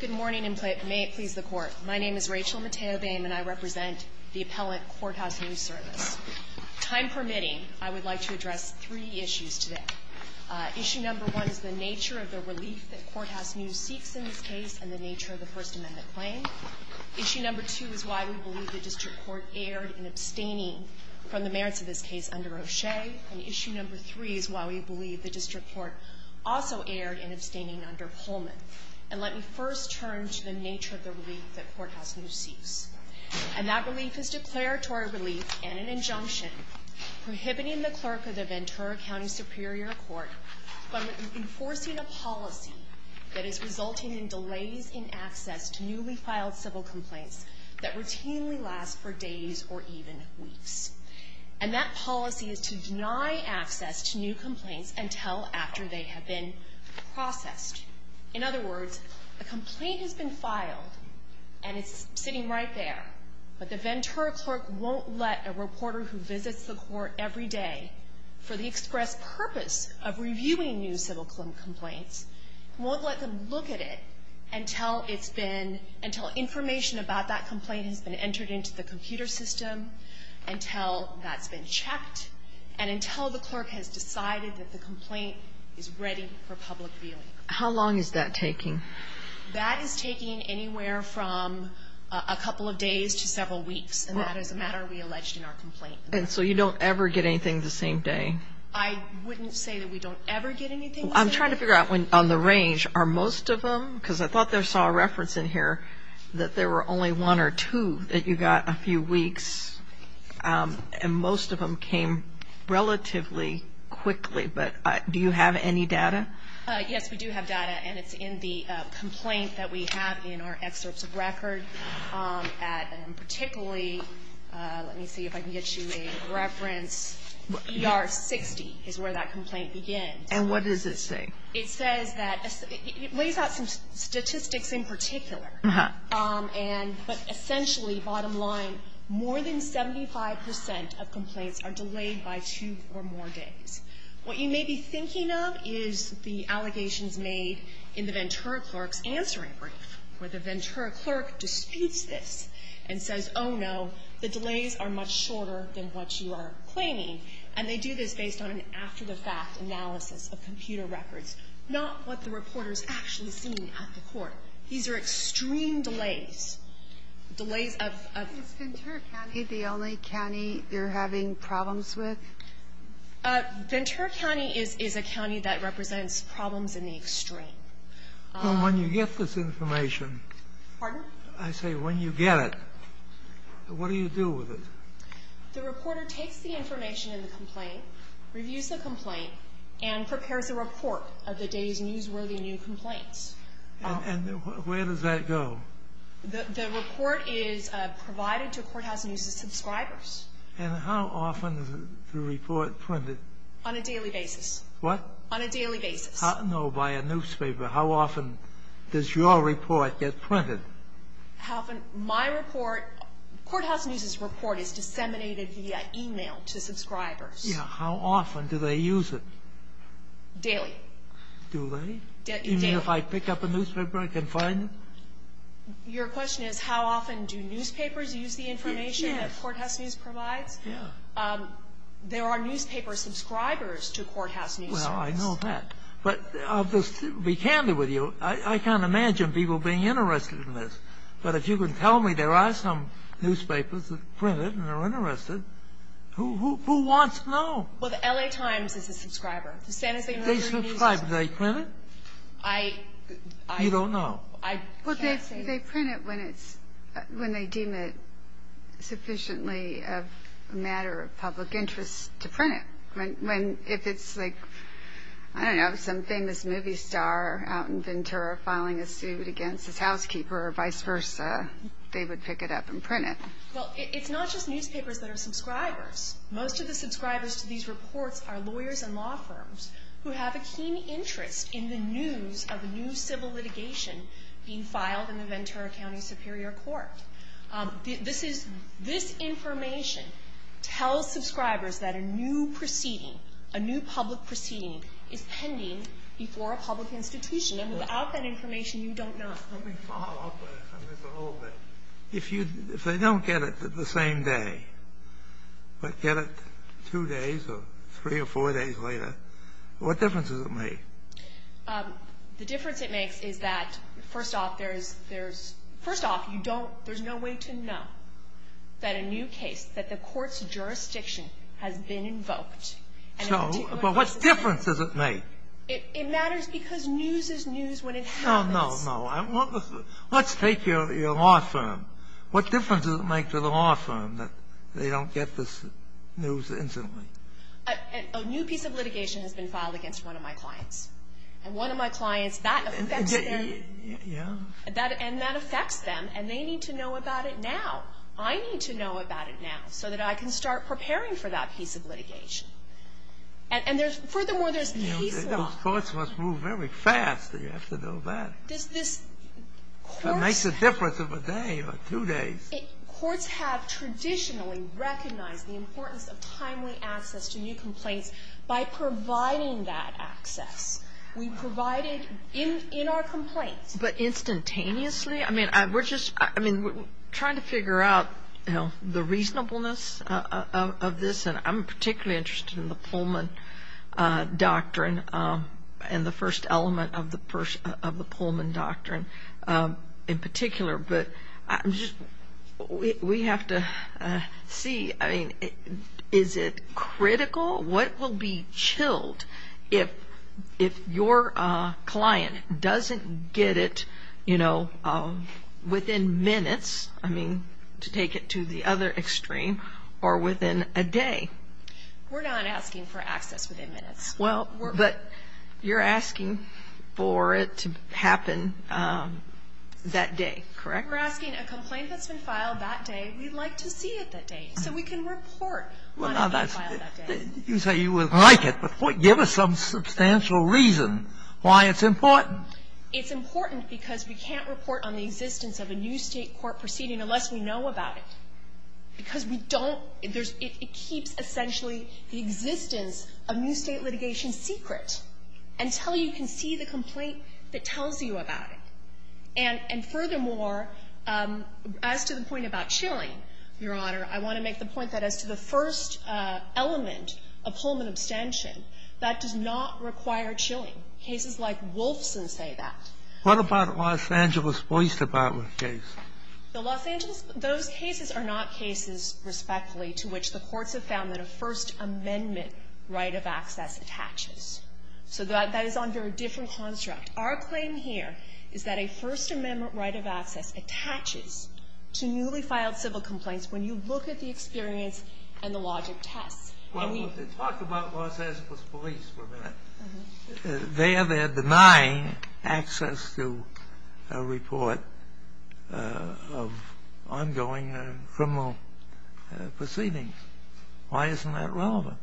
Good morning and may it please the Court. My name is Rachel Mateo-Boehm and I represent the appellant Courthouse News Service. Time permitting, I would like to address three issues today. Issue number one is the nature of the relief that Courthouse News seeks in this case and the nature of the First Amendment claim. Issue number two is why we believe the District Court erred in abstaining from the merits of this case under O'Shea. And issue number three is why we believe the District Court also erred in abstaining under Pullman. And let me first turn to the nature of the relief that Courthouse News seeks. And that relief is declaratory relief and an injunction prohibiting the clerk of the Ventura County Superior Court from enforcing a policy that is resulting in delays in access to newly filed civil complaints that routinely last for days or even weeks. And that policy is to deny access to new complaints until after they have been processed. In other words, a complaint has been filed and it's sitting right there, but the Ventura clerk won't let a reporter who visits the court every day for the express purpose of reviewing new civil complaints, won't let them look at it until it's been, until information about that complaint has been entered into the computer system, until that's been checked, and until the clerk has decided that the complaint is ready for public viewing. How long is that taking? That is taking anywhere from a couple of days to several weeks. And that is a matter we alleged in our complaint. And so you don't ever get anything the same day? I wouldn't say that we don't ever get anything the same day. I'm trying to figure out on the range, are most of them, because I thought I saw a reference in here, that there were only one or two that you got a few weeks, and most of them came relatively quickly. But do you have any data? Yes, we do have data, and it's in the complaint that we have in our excerpts of record. And particularly, let me see if I can get you a reference, ER 60 is where that complaint begins. And what does it say? It says that it lays out some statistics in particular. But essentially, bottom line, more than 75 percent of complaints are delayed by two or more days. What you may be thinking of is the allegations made in the Ventura clerk's answering brief, where the Ventura clerk disputes this and says, oh, no, the delays are much shorter than what you are claiming. And they do this based on an after-the-fact analysis of computer records, not what the reporter is actually seeing at the court. These are extreme delays. Delays of ---- Is Ventura County the only county you're having problems with? Ventura County is a county that represents problems in the extreme. Well, when you get this information ---- Pardon? I say when you get it, what do you do with it? The reporter takes the information in the complaint, reviews the complaint, and prepares a report of the day's newsworthy new complaints. And where does that go? The report is provided to Courthouse News' subscribers. And how often is the report printed? On a daily basis. What? On a daily basis. No, by a newspaper. How often does your report get printed? My report ---- Courthouse News' report is disseminated via e-mail to subscribers. Yes. How often do they use it? Daily. Do they? Daily. Even if I pick up a newspaper, I can find it? Your question is how often do newspapers use the information that Courthouse News provides? Yes. There are newspaper subscribers to Courthouse News. Well, I know that. But I'll just be candid with you. I can't imagine people being interested in this. But if you can tell me there are some newspapers that print it and are interested, who wants to know? Well, the L.A. Times is a subscriber. They print it? I ---- You don't know? I can't say. Well, they print it when they deem it sufficiently a matter of public interest to print it. If it's like, I don't know, some famous movie star out in Ventura filing a suit against his housekeeper or vice versa, they would pick it up and print it. Well, it's not just newspapers that are subscribers. Most of the subscribers to these reports are lawyers and law firms who have a keen interest in the news of a new civil litigation being filed in the Ventura County Superior Court. This information tells subscribers that a new proceeding, a new public proceeding, is pending before a public institution. And without that information, you don't know. Let me follow up on this a little bit. If they don't get it the same day, but get it two days or three or four days later, what difference does it make? The difference it makes is that, first off, there's no way to know that a new case, that the Court's jurisdiction has been invoked. So, but what difference does it make? It matters because news is news when it happens. No, no, no. Let's take your law firm. What difference does it make to the law firm that they don't get this news instantly? A new piece of litigation has been filed against one of my clients. And one of my clients, that affects them. Yeah. And that affects them. And they need to know about it now. I need to know about it now so that I can start preparing for that piece of litigation. And there's, furthermore, there's case law. Those thoughts must move very fast that you have to know that. This, this, courts. It makes a difference of a day or two days. Courts have traditionally recognized the importance of timely access to new complaints by providing that access. We provided in our complaints. But instantaneously? I mean, we're just, I mean, we're trying to figure out, you know, the reasonableness of this. And I'm particularly interested in the Pullman doctrine and the first element of the Pullman doctrine in particular. But we have to see, I mean, is it critical? What will be chilled if your client doesn't get it, you know, within minutes? I mean, to take it to the other extreme, or within a day? We're not asking for access within minutes. Well, but you're asking for it to happen that day, correct? We're asking a complaint that's been filed that day. We'd like to see it that day. So we can report on it being filed that day. You say you would like it, but give us some substantial reason why it's important. It's important because we can't report on the existence of a new State court proceeding unless we know about it. Because we don't. It keeps essentially the existence of new State litigation secret until you can see the complaint that tells you about it. And furthermore, as to the point about chilling, Your Honor, I want to make the point that as to the first element of Pullman abstention, that does not require chilling. Cases like Wolfson say that. Sotomayor, what about Los Angeles Boyce-Dabatler case? Those cases are not cases, respectfully, to which the courts have found that a First Amendment right of access attaches. So that is under a different construct. Our claim here is that a First Amendment right of access attaches to newly filed civil complaints when you look at the experience and the logic tests. Well, we'll talk about Los Angeles Police for a minute. There they're denying access to a report of ongoing criminal proceedings. Why isn't that relevant?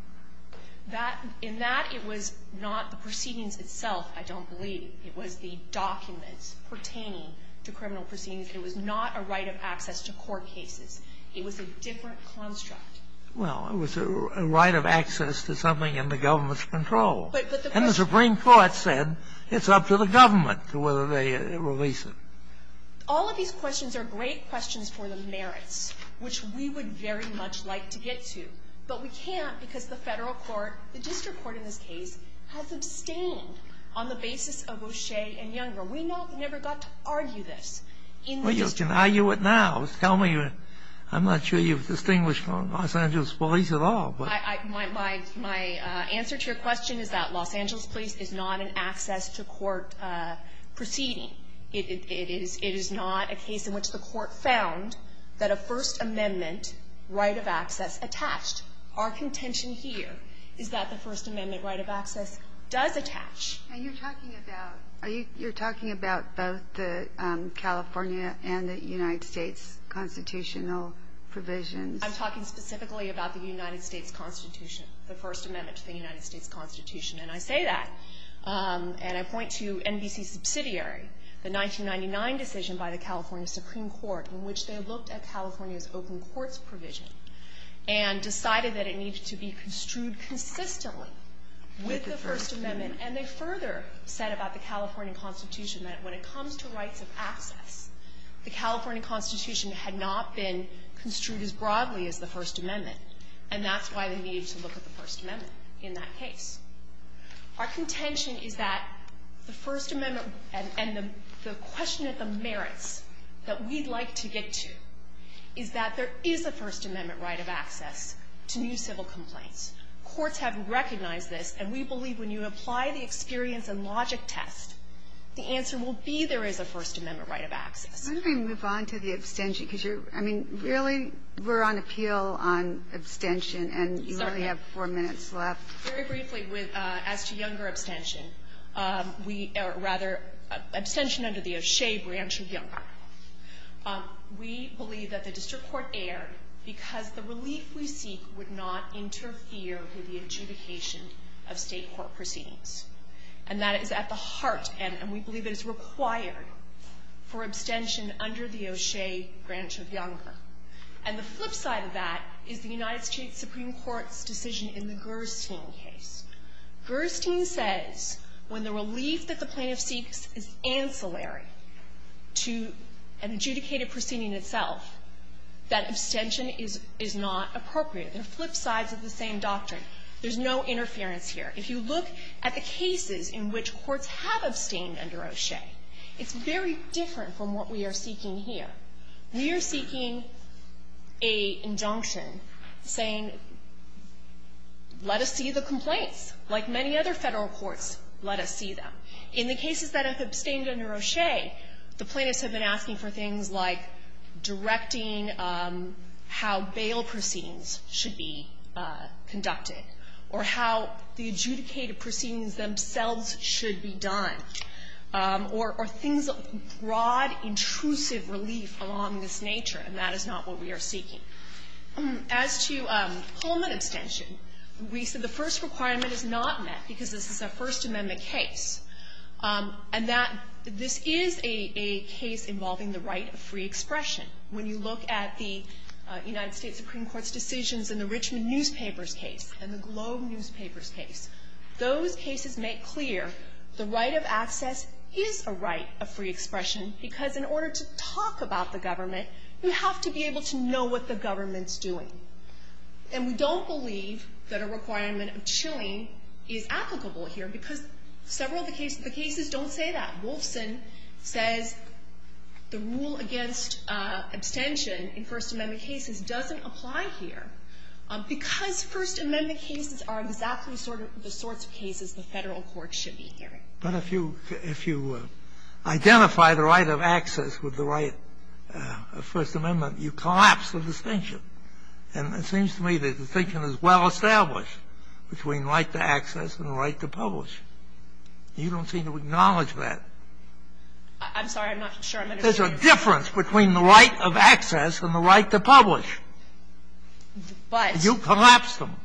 In that, it was not the proceedings itself, I don't believe. It was the documents pertaining to criminal proceedings. It was not a right of access to court cases. It was a different construct. Well, it was a right of access to something in the government's control. And the Supreme Court said it's up to the government whether they release it. All of these questions are great questions for the merits, which we would very much like to get to. But we can't because the Federal court, the district court in this case, has abstained on the basis of O'Shea and Younger. We never got to argue this. Well, you can argue it now. Tell me. I'm not sure you've distinguished Los Angeles Police at all. My answer to your question is that Los Angeles Police is not an access to court proceeding. It is not a case in which the court found that a First Amendment right of access attached. Our contention here is that the First Amendment right of access does attach. And you're talking about both the California and the United States constitutional provisions. I'm talking specifically about the United States Constitution, the First Amendment to the United States Constitution. And I say that. And I point to NBC's subsidiary, the 1999 decision by the California Supreme Court, in which they looked at California's open courts provision and decided that it needed to be construed consistently with the First Amendment. And they further said about the California Constitution that when it comes to rights of access, the California Constitution had not been construed as broadly as the First Amendment. And that's why they needed to look at the First Amendment in that case. Our contention is that the First Amendment and the question of the merits that we'd like to get to is that there is a First Amendment right of access to new civil complaints. Courts have recognized this. And we believe when you apply the experience and logic test, the answer will be there is a First Amendment right of access. I'm going to move on to the abstention, because you're, I mean, really we're on appeal on abstention, and you only have four minutes left. Very briefly, as to younger abstention, we, or rather, abstention under the O'Shea branch of Younger, we believe that the district court erred because the relief we seek would not interfere with the adjudication of State court proceedings. And that is at the heart, and we believe it is required for abstention under the O'Shea branch of Younger. And the flip side of that is the United States Supreme Court's decision in the Gerstein case. Gerstein says when the relief that the plaintiff seeks is ancillary to an adjudicated proceeding itself, that abstention is not appropriate. They're flip sides of the same doctrine. There's no interference here. If you look at the cases in which courts have abstained under O'Shea, it's very different from what we are seeking here. We are seeking an injunction saying, let us see the complaints. Like many other Federal courts, let us see them. In the cases that have abstained under O'Shea, the plaintiffs have been asking for themselves should be done, or things of broad, intrusive relief along this nature, and that is not what we are seeking. As to Pullman abstention, we said the first requirement is not met, because this is a First Amendment case, and that this is a case involving the right of free expression. When you look at the United States Supreme Court's decisions in the Richmond Newspapers case and the Globe Newspapers case, those cases make clear the right of access is a right of free expression, because in order to talk about the government, you have to be able to know what the government's doing. And we don't believe that a requirement of chilling is applicable here, because several of the cases don't say that. Wolfson says the rule against abstention in First Amendment cases doesn't apply here, because First Amendment cases are exactly sort of the sorts of cases the Federal court should be hearing. But if you identify the right of access with the right of First Amendment, you collapse the distinction. And it seems to me the distinction is well established between right to access and right to publish. You don't seem to acknowledge that. I'm sorry. I'm not sure. There's a difference between the right of access and the right to publish. You collapse them.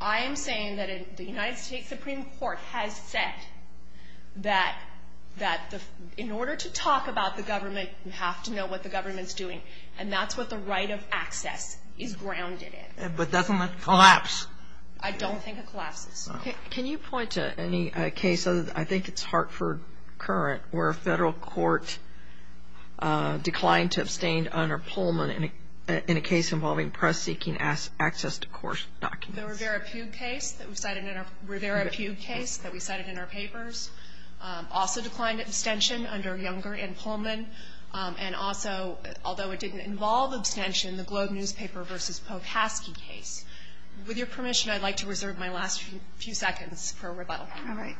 But I am saying that the United States Supreme Court has said that in order to talk about the government, you have to know what the government's doing. And that's what the right of access is grounded in. But doesn't it collapse? I don't think it collapses. Can you point to any case? I think it's Hartford Current, where a Federal court declined to abstain under Pullman in a case involving press seeking access to court documents. The Rivera-Pugue case that we cited in our papers. Also declined abstention under Younger and Pullman. And also, although it didn't involve abstention, the Globe Newspaper v. Pocaskey case. With your permission, I'd like to reserve my last few seconds for a rebuttal. All right.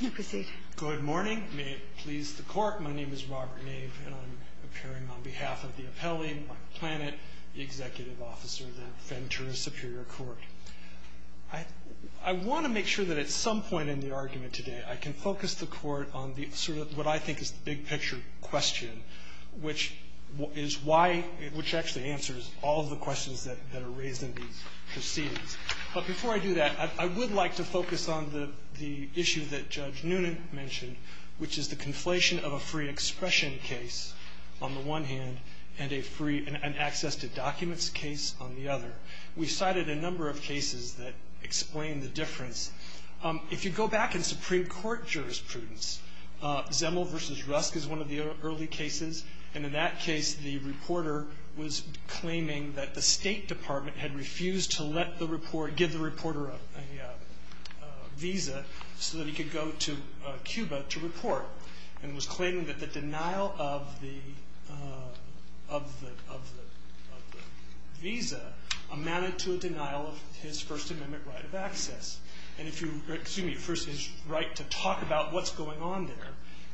You may proceed. Good morning. May it please the Court. My name is Robert Nave, and I'm appearing on behalf of the appellee, Mike Planet, the executive officer of the Ventura Superior Court. I want to make sure that at some point in the argument today, I can focus the Court on sort of what I think is the big picture question, which is why, which actually answers all of the questions that are raised in these proceedings. But before I do that, I would like to focus on the issue that Judge Noonan mentioned, which is the conflation of a free expression case on the one hand, and an access to documents case on the other. We cited a number of cases that explain the difference. If you go back in Supreme Court jurisprudence, Zemel v. Rusk is one of the early cases, and in that case, the reporter was claiming that the State Department had refused to let the reporter, give the reporter a visa so that he could go to Cuba to report, and was claiming that the denial of the visa amounted to a denial of his First Amendment right of access. And if you, excuse me, first his right to talk about what's going on there.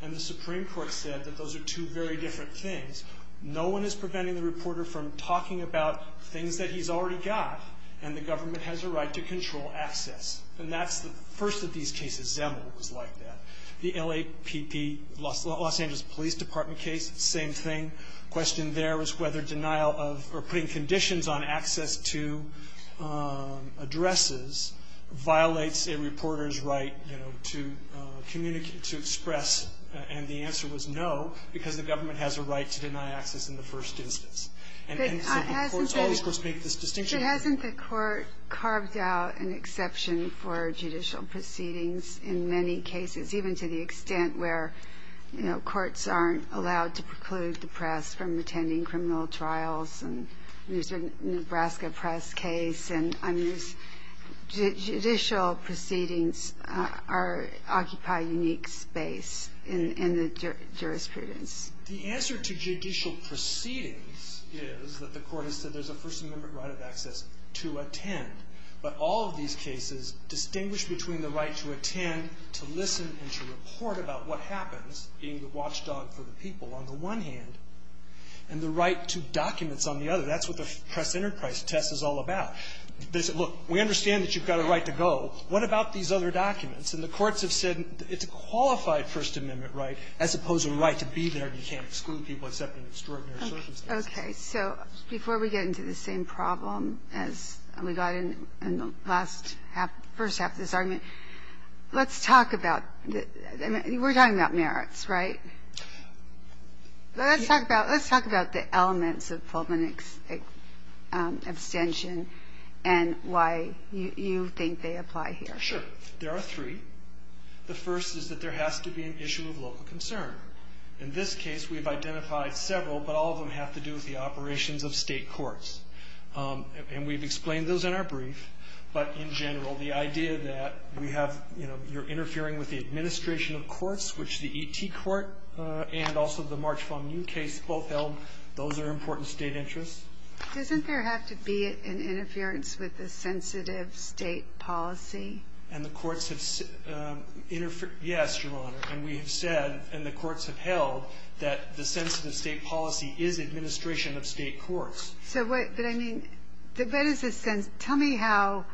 And the Supreme Court said that those are two very different things. No one is preventing the reporter from talking about things that he's already got, and the government has a right to control access. And that's the first of these cases, Zemel was like that. The LAPD, Los Angeles Police Department case, same thing. The question there was whether denial of, or putting conditions on access to addresses violates a reporter's right, you know, to communicate, to express, and the answer was no, because the government has a right to deny access in the first instance. And so the courts, all these courts make this distinction. But hasn't the court carved out an exception for judicial proceedings in many cases, even to the extent where, you know, courts aren't allowed to preclude the press from attending criminal trials, and there's a Nebraska press case, and judicial proceedings occupy a unique space in the jurisprudence. The answer to judicial proceedings is that the court has said there's a First Amendment right of access to attend. But all of these cases distinguish between the right to attend, to listen, and to report about what happens, being the watchdog for the people on the one hand, and the right to documents on the other. That's what the press enterprise test is all about. They say, look, we understand that you've got a right to go. What about these other documents? And the courts have said it's a qualified First Amendment right as opposed to a right to be there and you can't exclude people except in extraordinary circumstances. Okay. So before we get into the same problem as we got in the last half, first half of this argument, let's talk about, I mean, we're talking about merits, right? Let's talk about the elements of Pullman abstention and why you think they apply here. Sure. There are three. The first is that there has to be an issue of local concern. In this case, we've identified several, but all of them have to do with the operations of state courts. And we've explained those in our brief. But in general, the idea that we have, you know, you're interfering with the administration of courts, which the E.T. Court and also the March FOMU case both held, those are important state interests. Doesn't there have to be an interference with the sensitive state policy? And the courts have interfered. Yes, Your Honor. And we have said and the courts have held that the sensitive state policy is administration of state courts. But, I mean, what is the sense? Tell me how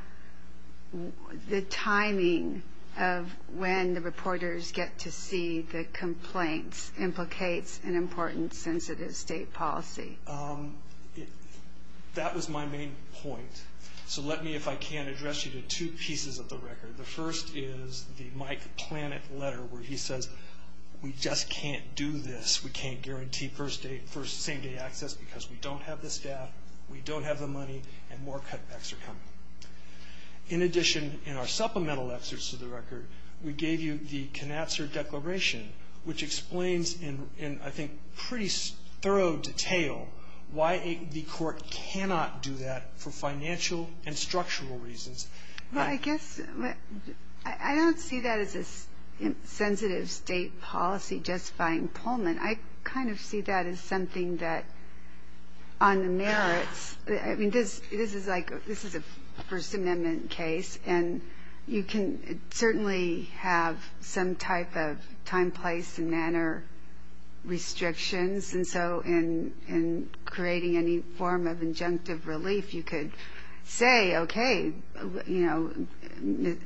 the timing of when the reporters get to see the complaints implicates an important sensitive state policy. That was my main point. So let me, if I can, address you to two pieces of the record. The first is the Mike Planet letter where he says, we just can't do this. We can't guarantee first day, first same day access because we don't have the staff, we don't have the money, and more cutbacks are coming. In addition, in our supplemental excerpts to the record, we gave you the Knatzer Declaration, which explains in, I think, pretty thorough detail why the court cannot do that for financial and structural reasons. Well, I guess, I don't see that as a sensitive state policy justifying Pullman. I kind of see that as something that on the merits, I mean, this is like, this is a First Amendment case, and you can certainly have some type of time, place, and manner restrictions. And so in creating any form of injunctive relief, you could say, okay, you know,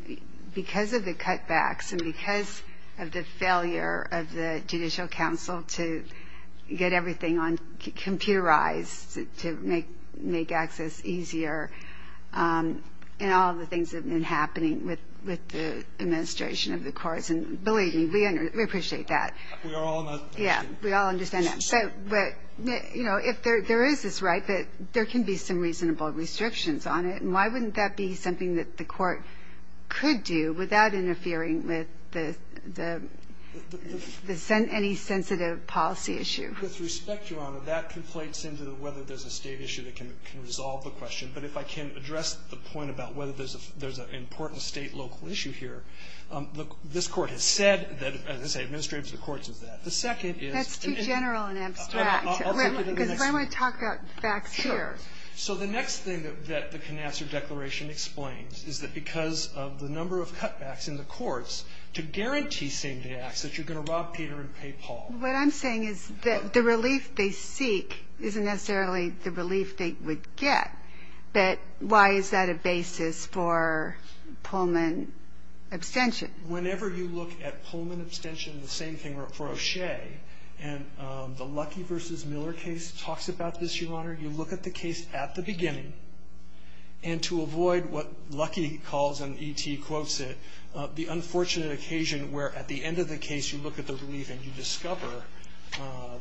because of the cutbacks and because of the failure of the Judicial Council to get everything computerized to make access easier and all the things that have been happening with the administration of the courts. And believe me, we appreciate that. Yeah, we all understand that. But, you know, if there is this right that there can be some reasonable restrictions on it, why wouldn't that be something that the court could do without interfering with any sensitive policy issue? With respect, Your Honor, that conflates into whether there's a state issue that can resolve the question. But if I can address the point about whether there's an important state-local issue here, this Court has said that, as I say, administrative of the courts is that. The second is- That's too general and abstract. Because I want to talk about facts here. So the next thing that the Canassar Declaration explains is that because of the number of cutbacks in the courts to guarantee same-day access, you're going to rob Peter and pay Paul. What I'm saying is that the relief they seek isn't necessarily the relief they would get. But why is that a basis for Pullman abstention? Whenever you look at Pullman abstention, the same thing for O'Shea, and the Luckey v. Miller case talks about this, Your Honor. You look at the case at the beginning. And to avoid what Luckey calls, and E.T. quotes it, the unfortunate occasion where at the end of the case you look at the relief and you discover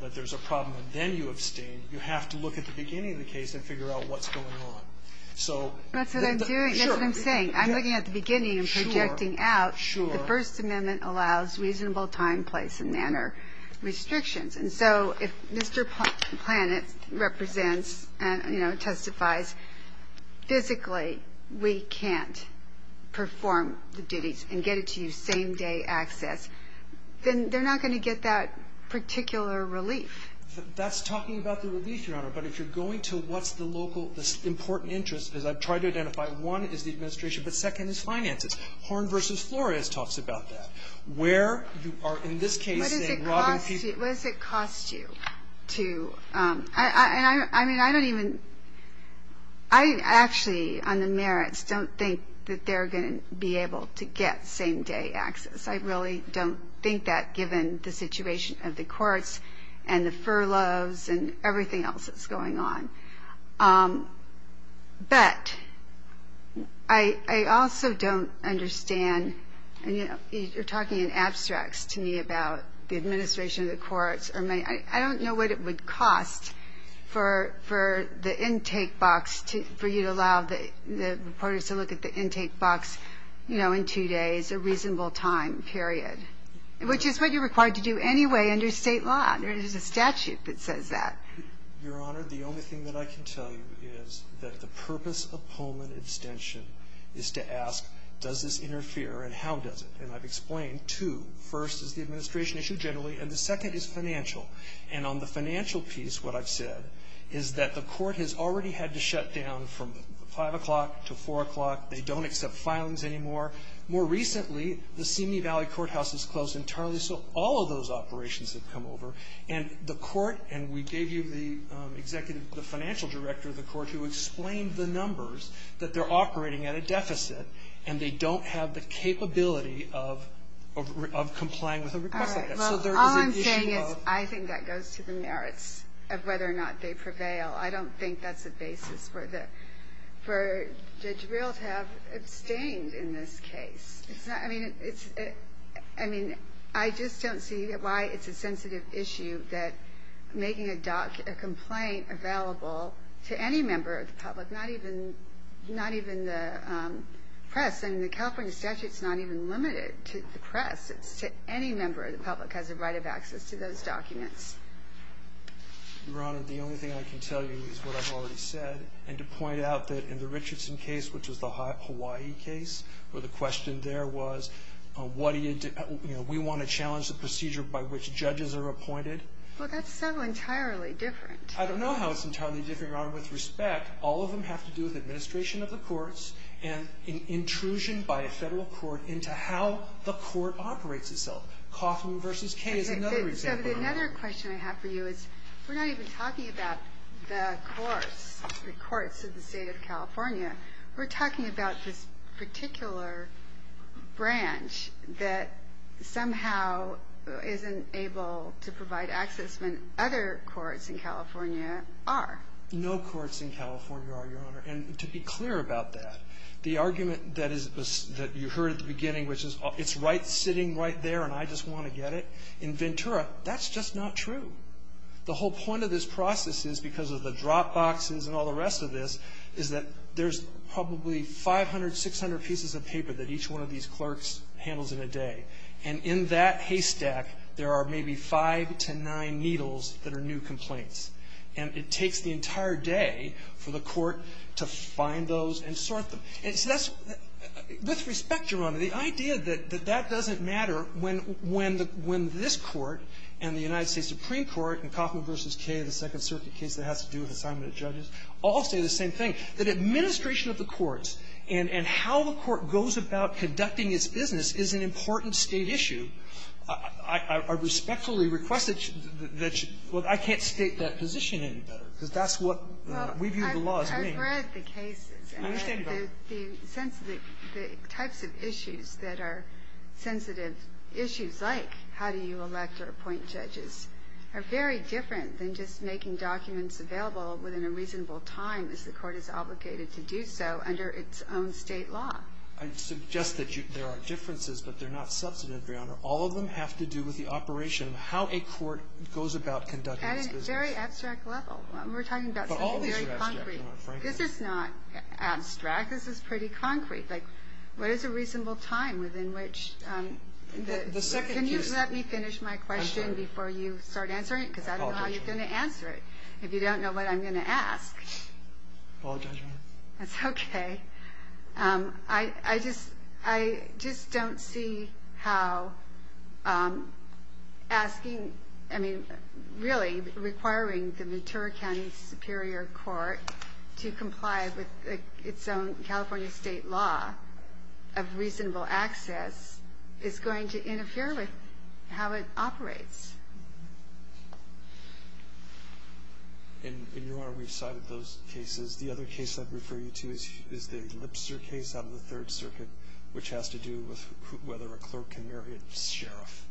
that there's a problem, and then you abstain. You have to look at the beginning of the case and figure out what's going on. So- That's what I'm doing. That's what I'm saying. I'm looking at the beginning and projecting out. Sure. The First Amendment allows reasonable time, place, and manner restrictions. And so if Mr. Planet represents and, you know, testifies, physically we can't perform the duties and get it to you same-day access, then they're not going to get that particular relief. That's talking about the relief, Your Honor. But if you're going to what's the local important interest, as I've tried to identify, one is the administration, but second is finances. Horne v. Flores talks about that, where you are in this case saying robbing people- What does it cost you to-I mean, I don't even-I actually, on the merits, don't think that they're going to be able to get same-day access. I really don't think that, given the situation of the courts and the furloughs and everything else that's going on. But I also don't understand-and, you know, you're talking in abstracts to me about the administration of the courts. I don't know what it would cost for the intake box, for you to allow the reporters to look at the intake box, you know, in two days, a reasonable time period, which is what you're required to do anyway under State law. There's a statute that says that. Your Honor, the only thing that I can tell you is that the purpose of Pullman extension is to ask, does this interfere, and how does it? And I've explained two. First is the administration issue generally, and the second is financial. And on the financial piece, what I've said is that the court has already had to shut down from 5 o'clock to 4 o'clock. They don't accept filings anymore. More recently, the Simi Valley Courthouse is closed entirely, so all of those operations have come over. And the court, and we gave you the executive, the financial director of the court, who explained the numbers, that they're operating at a deficit, and they don't have the capability of complying with a request like that. So there is an issue of- All right. Well, all I'm saying is I think that goes to the merits of whether or not they prevail. I don't think that's the basis for the drill to have abstained in this case. I mean, I just don't see why it's a sensitive issue that making a complaint available to any member of the public, not even the press. I mean, the California statute's not even limited to the press. It's to any member of the public has a right of access to those documents. Your Honor, the only thing I can tell you is what I've already said, and to point out that in the Richardson case, which was the Hawaii case, where the question there was, you know, we want to challenge the procedure by which judges are appointed. Well, that's so entirely different. I don't know how it's entirely different, Your Honor. With respect, all of them have to do with administration of the courts and an intrusion by a federal court into how the court operates itself. Kaufman v. K is another example. Another question I have for you is we're not even talking about the courts, the courts of the state of California. We're talking about this particular branch that somehow isn't able to provide access when other courts in California are. No courts in California are, Your Honor. And to be clear about that, the argument that you heard at the beginning, which is it's right sitting right there and I just want to get it, in Ventura, that's just not true. The whole point of this process is, because of the drop boxes and all the rest of this, is that there's probably 500, 600 pieces of paper that each one of these clerks handles in a day. And in that haystack, there are maybe five to nine needles that are new complaints. And it takes the entire day for the court to find those and sort them. And so that's, with respect, Your Honor, the idea that that doesn't matter when this Court and the United States Supreme Court and Kaufman v. K, the Second Circuit case that has to do with assignment of judges, all say the same thing. That administration of the courts and how the court goes about conducting its business is an important State issue. I respectfully request that you, well, I can't state that position any better, because that's what we view the law as being. I've read the cases. I understand that. And the types of issues that are sensitive issues, like how do you elect or appoint judges, are very different than just making documents available within a reasonable time, as the court is obligated to do so under its own State law. I'd suggest that there are differences, but they're not substantive, Your Honor. All of them have to do with the operation of how a court goes about conducting its business. At a very abstract level. We're talking about something very concrete. This is not abstract. This is pretty concrete. Like, what is a reasonable time within which the... Can you let me finish my question before you start answering it, because I don't know how you're going to answer it if you don't know what I'm going to ask. Apologize, Your Honor. That's okay. I just don't see how asking, I mean, really requiring the Ventura County Superior Court to comply with its own California State law of reasonable access is going to interfere with how it operates. And, Your Honor, we've cited those cases. The other case I'd refer you to is the Lipster case out of the Third Circuit, which has to do with whether a clerk can marry a sheriff.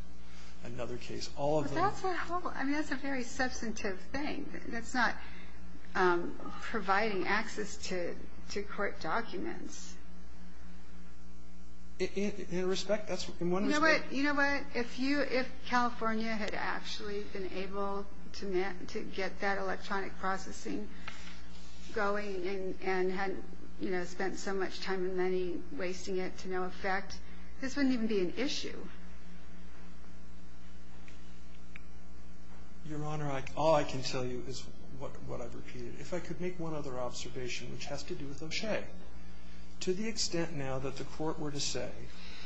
Another case. All of them... But that's a whole... I mean, that's a very substantive thing. That's not providing access to court documents. In respect, that's... In one respect... You know what? If California had actually been able to get that electronic processing going and hadn't spent so much time and money wasting it to no effect, this wouldn't even be an issue. Your Honor, all I can tell you is what I've repeated. If I could make one other observation, which has to do with O'Shea, to the extent now that the court were to say,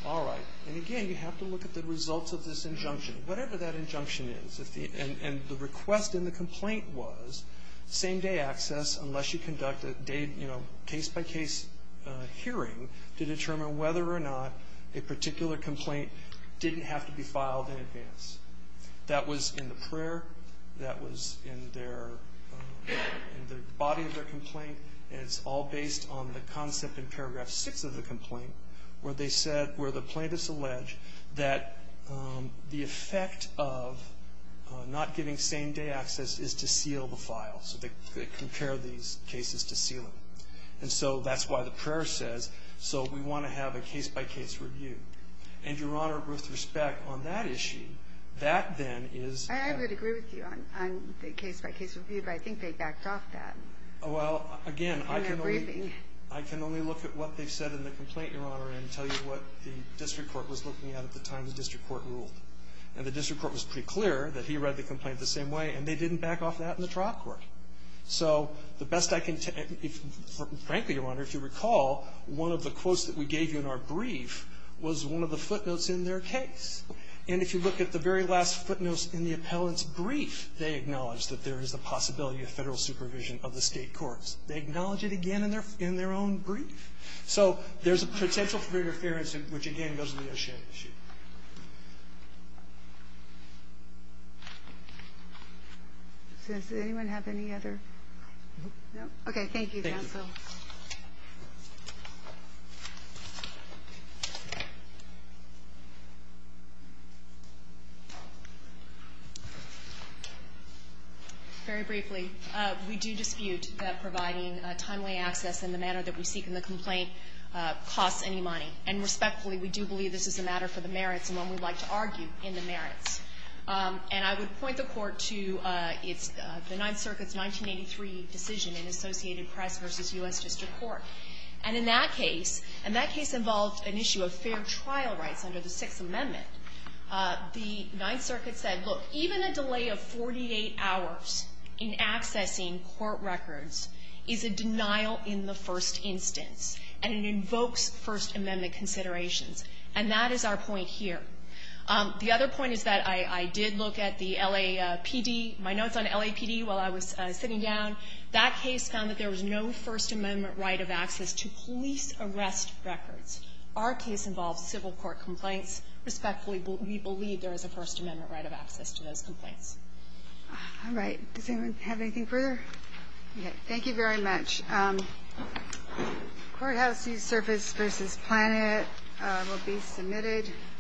all right, and again, you have to look at the results of this injunction, whatever that injunction is. And the request in the complaint was same-day access unless you conduct a case-by-case hearing to determine whether or not a particular complaint didn't have to be filed in advance. That was in the prayer. That was in the body of their complaint. And it's all based on the concept in paragraph six of the complaint where they said, where the plaintiffs allege that the effect of not giving same-day access is to seal the file. So they compare these cases to sealing. And so that's why the prayer says, so we want to have a case-by-case review. And, Your Honor, with respect, on that issue, that then is... I would agree with you on the case-by-case review, but I think they backed off Well, again, I can only... In their briefing. state, Your Honor, and tell you what the district court was looking at at the time the district court ruled. And the district court was pretty clear that he read the complaint the same way, and they didn't back off that in the trial court. So the best I can tell... Frankly, Your Honor, if you recall, one of the quotes that we gave you in our brief was one of the footnotes in their case. And if you look at the very last footnotes in the appellant's brief, they acknowledge that there is a possibility of federal supervision of the state courts. They acknowledge it again in their own brief. So there's a potential for interference, which, again, goes to the issue. Does anyone have any other... No? Okay, thank you, counsel. Thank you. Very briefly, we do dispute that providing timely access in the manner that we seek in the complaint costs any money. And respectfully, we do believe this is a matter for the merits and one we'd like to argue in the merits. And I would point the Court to the Ninth Circuit's 1983 decision in Associated Press v. U.S. District Court. And in that case, and that case involved an issue of fair trial rights under the Sixth Amendment, the Ninth Circuit said, look, even a delay of 48 hours in existence, and it invokes First Amendment considerations. And that is our point here. The other point is that I did look at the LAPD, my notes on LAPD while I was sitting down. That case found that there was no First Amendment right of access to police arrest records. Our case involves civil court complaints. Respectfully, we believe there is a First Amendment right of access to those complaints. All right. Does anyone have anything further? Okay. Thank you very much. Courthouse Seasurface v. Planet will be submitted.